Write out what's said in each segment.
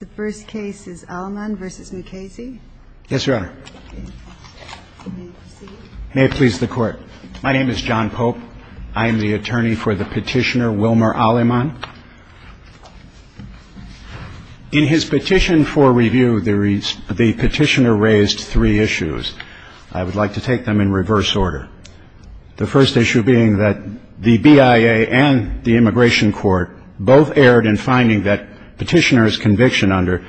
The first case is Aleman v. Mukasey. Yes, Your Honor. May it please the Court. My name is John Pope. I am the attorney for the petitioner Wilmer Aleman. In his petition for review, the petitioner raised three issues. I would like to take them in reverse order, the first issue being that the BIA and the Immigration Court both erred in finding that petitioner's conviction under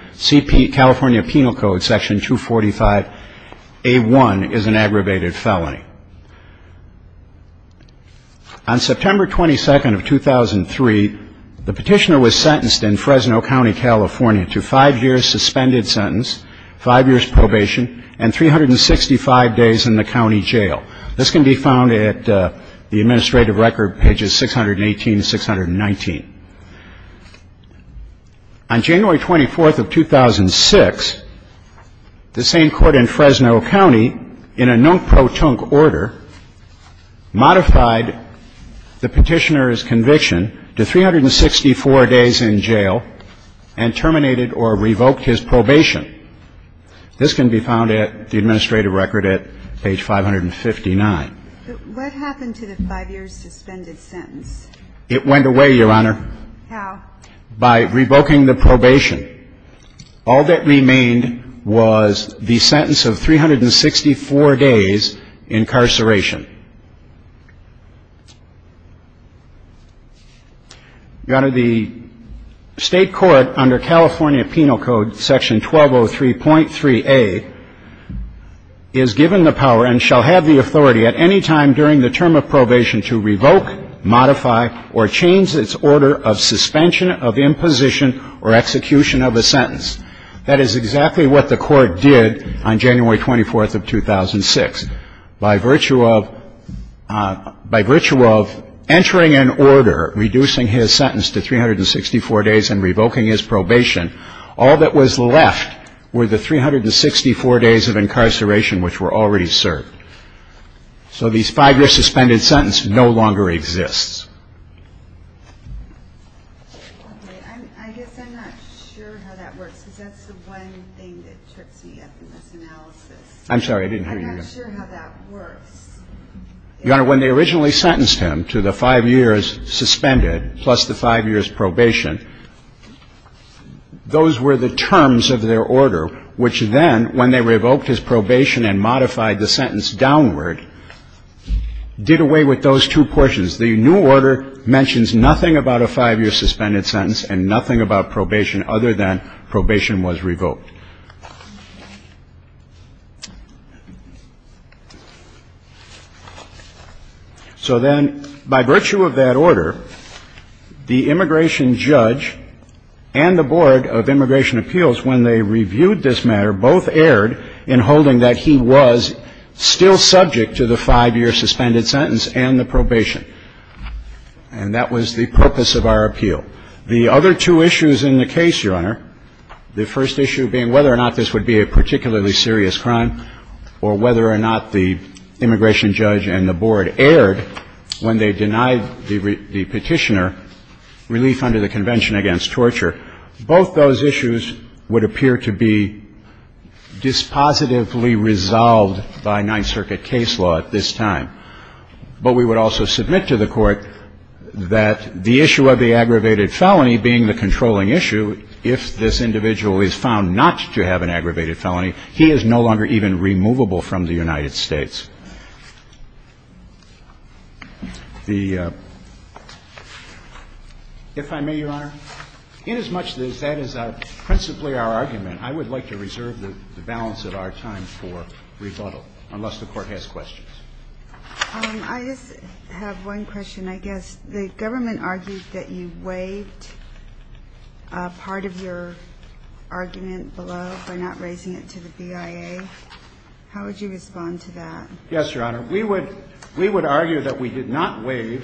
California Penal Code Section 245A1 is an aggravated felony. On September 22nd of 2003, the petitioner was sentenced in Fresno County, California to five years suspended sentence, five years probation, and 365 days in the county jail. This can be found at the administrative record, pages 618 and 619. On January 24th of 2006, the same court in Fresno County, in a non-protonc order, modified the petitioner's conviction to 364 days in jail and terminated or revoked his probation. This can be found at the administrative record at page 559. But what happened to the five years suspended sentence? It went away, Your Honor. How? By revoking the probation. All that remained was the sentence of 364 days incarceration. Your Honor, the state court under California Penal Code Section 1203.3A is given the power and shall have the authority at any time during the term of probation to revoke, modify, or change its order of suspension of imposition or execution of a sentence. That is exactly what the court did on January 24th of 2006. By virtue of entering an order reducing his sentence to 364 days and revoking his probation, all that was left were the 364 days of incarceration which were already served. So these five years suspended sentence no longer exists. I guess I'm not sure how that works because that's the one thing that trips me up in this analysis. I'm not sure how that works. Your Honor, when they originally sentenced him to the five years suspended plus the five years probation, those were the terms of their order which then, when they revoked his probation and modified the sentence downward, did away with those two portions. The new order mentions nothing about a five-year suspended sentence and nothing about probation other than probation was revoked. So then by virtue of that order, the immigration judge and the Board of Immigration Appeals, when they reviewed this matter, both erred in holding that he was still subject to the five-year suspended sentence and the probation. And that was the purpose of our appeal. The other two issues in the case, Your Honor, the first issue being whether or not this would be a particularly serious crime or whether or not the immigration judge and the board erred when they denied the Petitioner relief under the Convention Against Torture. Both those issues would appear to be dispositively resolved by Ninth Circuit case law at this time. But we would also submit to the Court that the issue of the aggravated felony being the controlling issue, if this individual is found not to have an aggravated felony, he is no longer even removable from the United States. The ---- If I may, Your Honor, inasmuch as that is principally our argument, I would like to reserve the balance of our time for rebuttal unless the Court has questions. I just have one question, I guess. The government argued that you waived part of your argument below by not raising it to the BIA. How would you respond to that? Yes, Your Honor. We would argue that we did not waive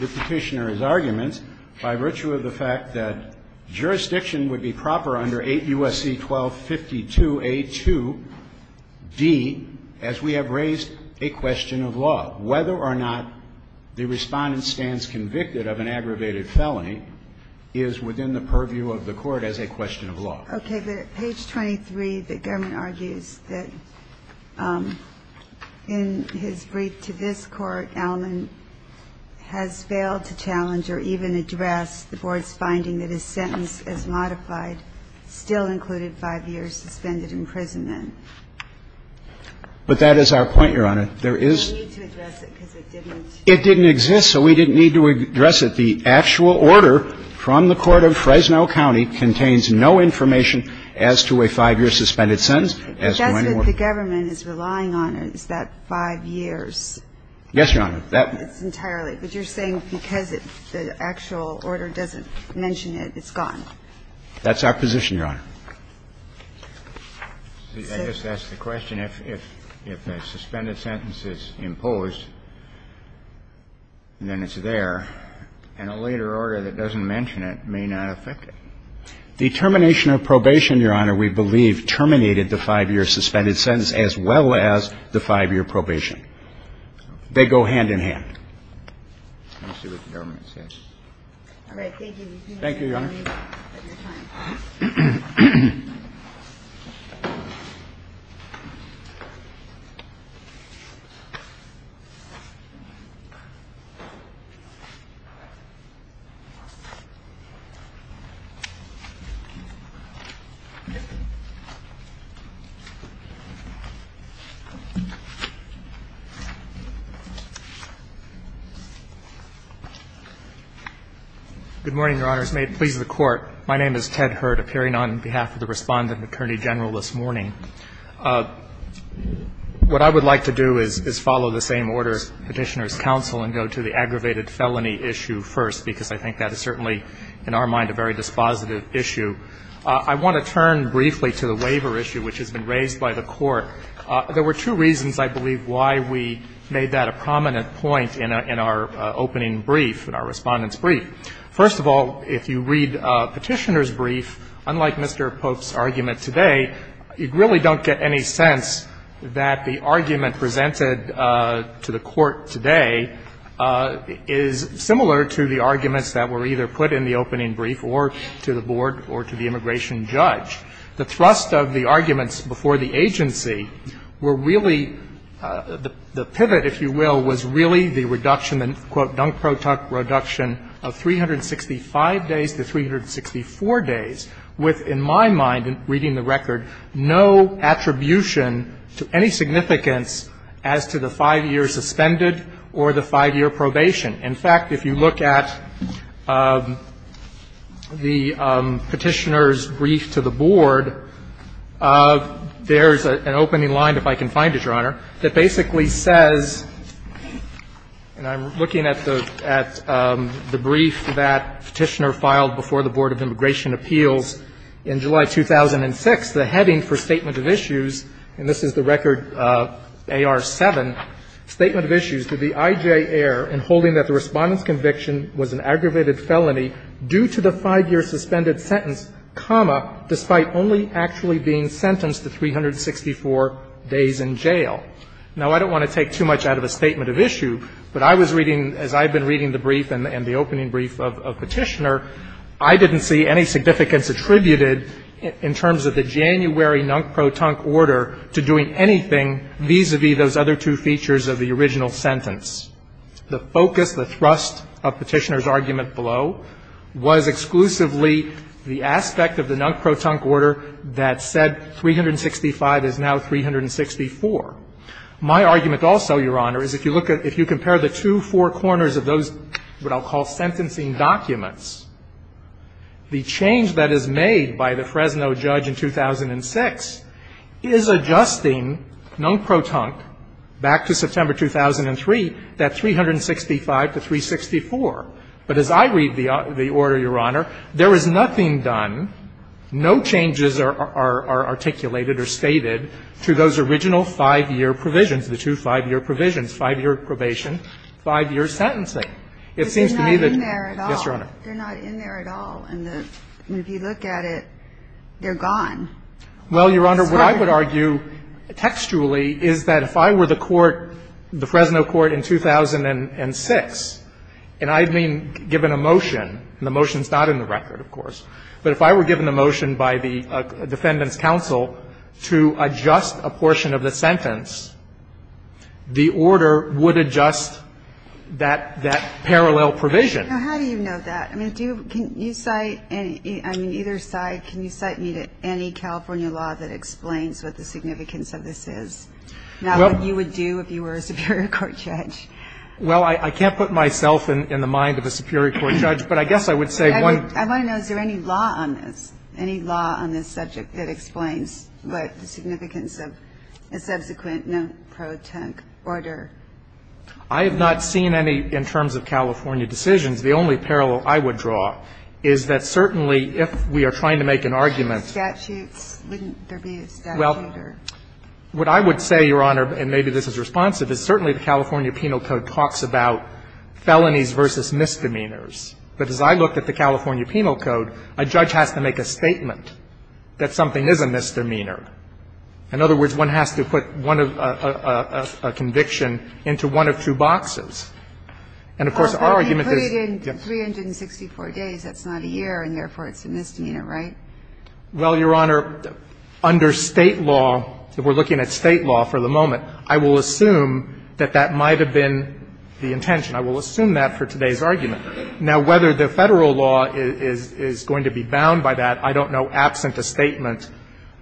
the Petitioner's arguments by virtue of the fact that jurisdiction would be proper under 8 U.S.C. 1252a2d as we have raised a question of law. Whether or not the Respondent stands convicted of an aggravated felony is within the purview of the Court as a question of law. Okay. But at page 23, the government argues that in his brief to this Court, Allman has failed to challenge or even address the Board's finding that his sentence as modified still included 5 years suspended imprisonment. But that is our point, Your Honor. There is ---- We need to address it because it didn't ---- It didn't exist, so we didn't need to address it. The actual order from the court of Fresno County contains no information as to a 5-year suspended sentence. But that's what the government is relying on is that 5 years. Yes, Your Honor. That's entirely. But you're saying because the actual order doesn't mention it, it's gone. That's our position, Your Honor. I guess that's the question. If a suspended sentence is imposed, then it's there, and a later order that doesn't mention it may not affect it. The termination of probation, Your Honor, we believe terminated the 5-year suspended sentence as well as the 5-year probation. They go hand in hand. I see what the government says. All right. Thank you, Your Honor. Thank you, Your Honor. Good morning, Your Honors. May it please the Court. My name is Ted Hurd, appearing on behalf of the Respondent and Attorney General this morning. What I would like to do is follow the same order as Petitioner's counsel and go to the aggravated felony issue first, because I think that is certainly, in our mind, a very dispositive issue. I want to turn briefly to the waiver issue, which has been raised by the Court. There were two reasons, I believe, why we made that a prominent point in our opening brief, in our Respondent's brief. First of all, if you read Petitioner's brief, unlike Mr. Pope's argument today, you really don't get any sense that the argument presented to the Court today is similar to the arguments that were either put in the opening brief or to the board or to the immigration judge. The thrust of the arguments before the agency were really the pivot, if you will, was really the reduction, the, quote, Dunk Pro Tuck reduction of 365 days to 364 days with, in my mind, reading the record, no attribution to any significance as to the 5-year suspended or the 5-year probation. In fact, if you look at the Petitioner's brief to the board, there is an opening line, if I can find it, Your Honor, that basically says, and I'm looking at the brief that Petitioner filed before the Board of Immigration Appeals in July 2006, the heading for statement of issues, and this is the record AR-7, statement of issues that the I.J. Ehr in holding that the Respondent's conviction was an aggravated felony due to the 5-year suspended sentence, comma, despite only actually being sentenced to 364 days in jail. Now, I don't want to take too much out of a statement of issue, but I was reading as I've been reading the brief and the opening brief of Petitioner, I didn't see any significance attributed in terms of the January Dunk Pro Tuck order to doing anything vis-à-vis those other two features of the original sentence. The focus, the thrust of Petitioner's argument below was exclusively the aspect of the Dunk Pro Tuck order that said 365 is now 364. My argument also, Your Honor, is if you look at the two four corners of those what I'll call sentencing documents, the change that is made by the Fresno judge in 2006 is adjusting Dunk Pro Tuck back to September 2003, that 365 to 364. But as I read the order, Your Honor, there is nothing done, no changes are articulated or stated to those original 5-year provisions, the two 5-year provisions, 5-year probation, 5-year sentencing. It seems to me that they're not in there at all, and if you look at it, they're gone. Well, Your Honor, what I would argue textually is that if I were the court, the Fresno court in 2006, and I'd been given a motion, and the motion's not in the record, of course, but if I were given a motion by the Defendant's Counsel to adjust a portion of the sentence, the order would adjust that parallel provision. Now, how do you know that? I mean, do you, can you cite, I mean, either side, can you cite me to any California law that explains what the significance of this is, not what you would do if you were a superior court judge? Well, I can't put myself in the mind of a superior court judge, but I guess I would say one. I want to know, is there any law on this, any law on this subject that explains what the significance of a subsequent Dunk Pro Tuck order? I have not seen any in terms of California decisions. The only parallel I would draw is that certainly, if we are trying to make an argument to a statute, wouldn't there be a statute or? Well, what I would say, Your Honor, and maybe this is responsive, is certainly the California Penal Code talks about felonies versus misdemeanors. But as I looked at the California Penal Code, a judge has to make a statement that something is a misdemeanor. In other words, one has to put one of a conviction into one of two boxes. And, of course, our argument is, yes. But if you put it in 364 days, that's not a year, and therefore it's a misdemeanor, right? Well, Your Honor, under State law, if we're looking at State law for the moment, I will assume that that might have been the intention. I will assume that for today's argument. Now, whether the Federal law is going to be bound by that, I don't know, absent a statement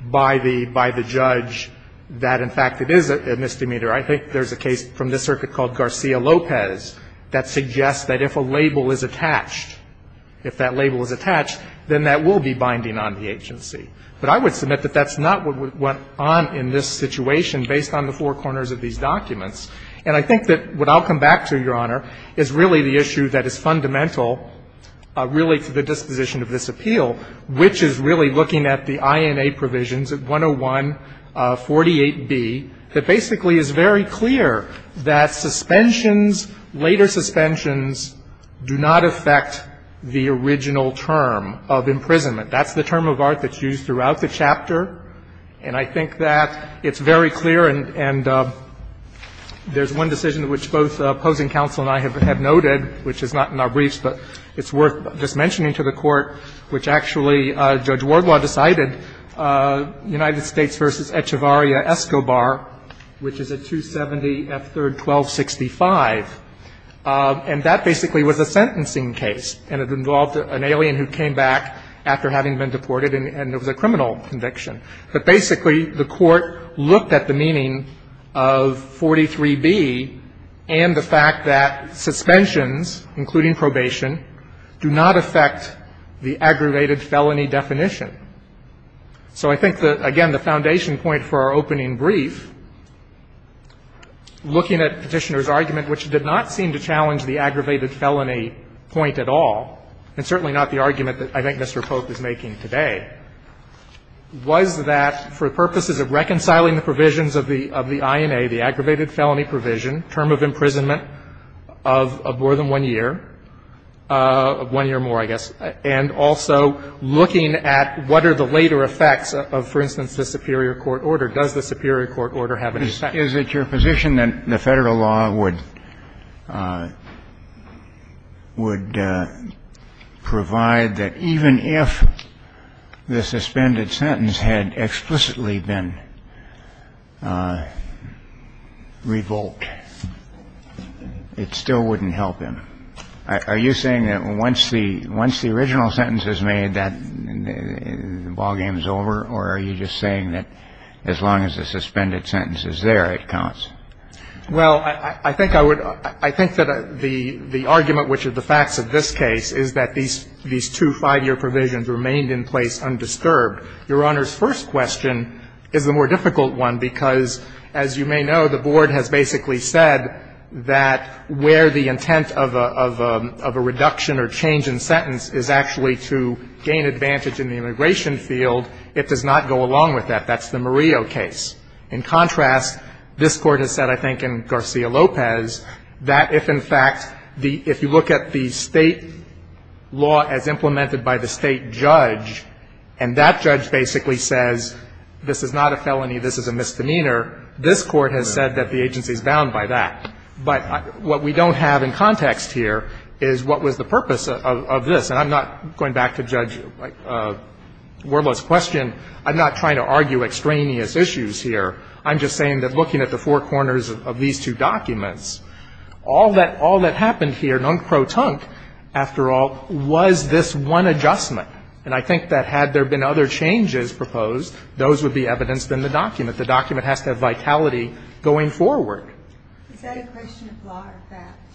by the judge that, in fact, it is a misdemeanor. I think there's a case from this circuit called Garcia-Lopez that suggests that if a label is attached, if that label is attached, then that will be binding on the agency. But I would submit that that's not what went on in this situation based on the four corners of these documents. And I think that what I'll come back to, Your Honor, is really the issue that is fundamental really to the disposition of this appeal, which is really looking at the INA provisions at 10148B that basically is very clear that suspensions, later suspensions, do not affect the original term of imprisonment. That's the term of art that's used throughout the chapter, and I think that it's very clear, and there's one decision which both opposing counsel and I have noted, which is not in our briefs, but it's worth just mentioning to the Court, which actually Judge Wardlaw decided, United States v. Echevarria-Escobar, which is a 270 F. 3rd 1265, and that basically was a sentencing case, and it involved an alien who came back after having been deported, and it was a criminal conviction. But basically, the Court looked at the meaning of 43B and the fact that suspensions including probation do not affect the aggravated felony definition. So I think that, again, the foundation point for our opening brief, looking at Petitioner's argument, which did not seem to challenge the aggravated felony point at all, and certainly not the argument that I think Mr. Pope is making today, was that for purposes of reconciling the provisions of the INA, the aggravated felony provision, term of one year, one year more, I guess, and also looking at what are the later effects of, for instance, the superior court order. Does the superior court order have any effect? Kennedy Is it your position that the Federal law would provide that even if the suspended sentence had explicitly been revoked, it still wouldn't help him? Are you saying that once the original sentence is made, that the ballgame is over? Or are you just saying that as long as the suspended sentence is there, it counts? Well, I think I would – I think that the argument, which is the facts of this case, is that these two five-year provisions remained in place undisturbed. Your Honor's first question is the more difficult one, because as you may know, the case of a reduction or change in sentence is actually to gain advantage in the immigration field. It does not go along with that. That's the Murillo case. In contrast, this Court has said, I think, in Garcia-Lopez, that if, in fact, the – if you look at the State law as implemented by the State judge, and that judge basically says this is not a felony, this is a misdemeanor, this Court has said that the agency is bound by that. But what we don't have in context here is what was the purpose of this. And I'm not going back to Judge Wuerloth's question. I'm not trying to argue extraneous issues here. I'm just saying that looking at the four corners of these two documents, all that – all that happened here, non pro tonque, after all, was this one adjustment. And I think that had there been other changes proposed, those would be evidenced in the document. The document has to have vitality going forward. Is that a question of law or fact?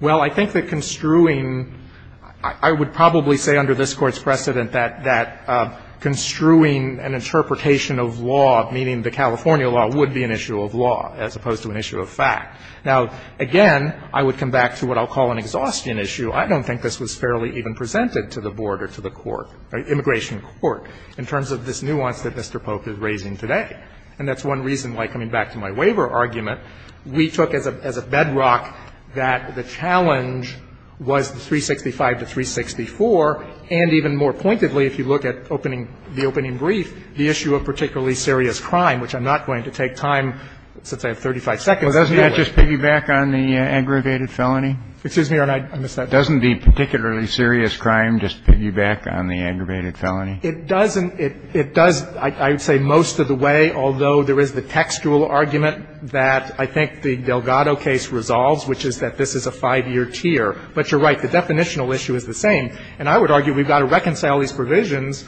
Well, I think that construing – I would probably say under this Court's precedent that construing an interpretation of law, meaning the California law, would be an issue of law as opposed to an issue of fact. Now, again, I would come back to what I'll call an exhaustion issue. I don't think this was fairly even presented to the Board or to the Court, Immigration Court, in terms of this nuance that Mr. Polk is raising today. And that's one reason why, coming back to my waiver argument, we took as a bedrock that the challenge was the 365 to 364, and even more pointedly, if you look at opening – the opening brief, the issue of particularly serious crime, which I'm not going to take time, since I have 35 seconds. Well, doesn't that just piggyback on the aggravated felony? Excuse me, Your Honor. I missed that. Doesn't the particularly serious crime just piggyback on the aggravated felony? It doesn't. It does, I would say, most of the way, although there is the textual argument that I think the Delgado case resolves, which is that this is a five-year tier. But you're right. The definitional issue is the same. And I would argue we've got to reconcile these provisions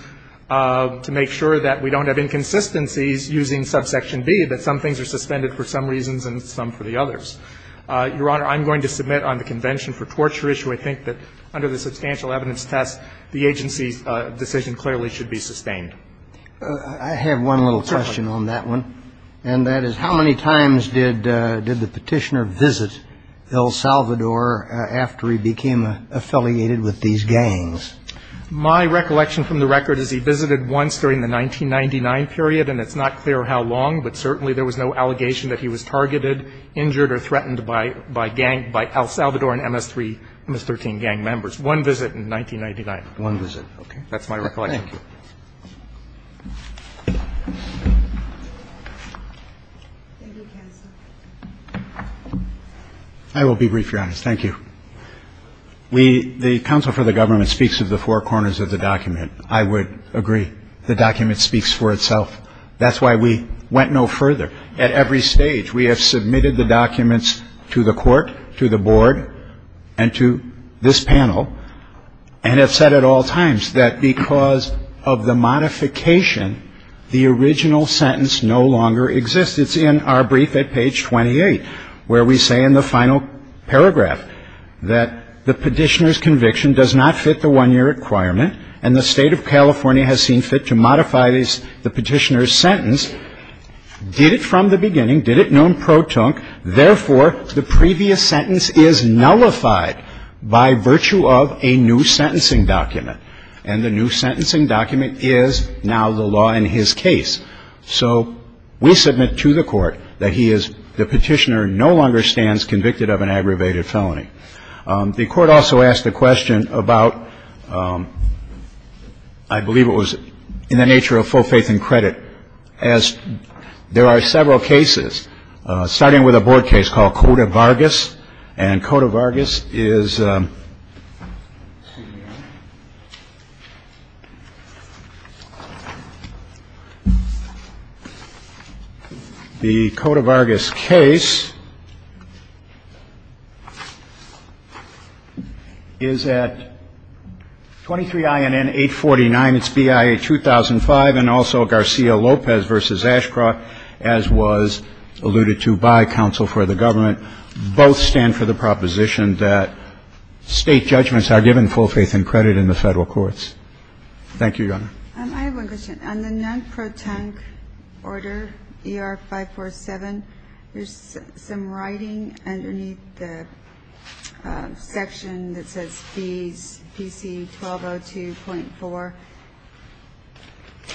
to make sure that we don't have inconsistencies using subsection B, that some things are suspended for some reasons and some for the others. Your Honor, I'm going to submit on the Convention for Torture issue, I think, that under the substantial evidence test, the agency's decision clearly should be sustained. I have one little question on that one, and that is how many times did the Petitioner visit El Salvador after he became affiliated with these gangs? My recollection from the record is he visited once during the 1999 period, and it's not clear how long, but certainly there was no allegation that he was targeted, injured, or threatened by gang – by El Salvador and MS-3, MS-13 gang members. So it's one visit in 1999. One visit. Okay. That's my recollection. Thank you. I will be brief, Your Honor. Thank you. We – the counsel for the government speaks of the four corners of the document. I would agree the document speaks for itself. That's why we went no further. At every stage, we have submitted the documents to the court, to the board, and to this panel, and have said at all times that because of the modification, the original sentence no longer exists. It's in our brief at page 28, where we say in the final paragraph that the Petitioner's conviction does not fit the one-year requirement, and the State of California has seen fit to modify the Petitioner's sentence. Did it from the beginning. Did it non-pro-tunc. Therefore, the previous sentence is nullified by virtue of a new sentencing document. And the new sentencing document is now the law in his case. So we submit to the court that he is – the Petitioner no longer stands convicted of an aggravated felony. The court also asked a question about – I believe it was in the nature of full faith and credit, as there are several cases, starting with a board case called Cota Vargas. And Cota Vargas is – the Cota Vargas case is at 23 INN 849. It's BIA 2005, and also Garcia-Lopez v. Ashcroft, as was alluded to by counsel for the government, both stand for the proposition that State judgments are given full faith and credit in the Federal courts. Thank you, Your Honor. I have one question. On the non-pro-tunc order, ER 547, there's some writing underneath the section that says fees PC 1202.4.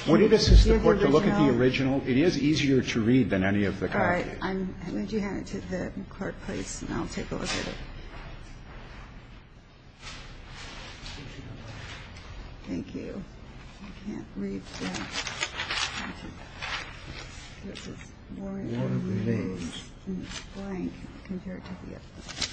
Would it assist the court to look at the original? It is easier to read than any of the copies. All right. I'm going to hand it to the clerk, please, and I'll take a look at it. Thank you. I can't read that. It's just – there's this word on the page, and it's blank compared to the other.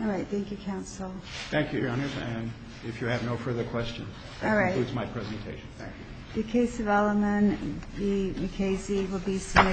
All right. Thank you, counsel. Thank you, Your Honor. And if you have no further questions, that concludes my presentation. Thank you. The case of Elliman v. McKaysey will be submitted.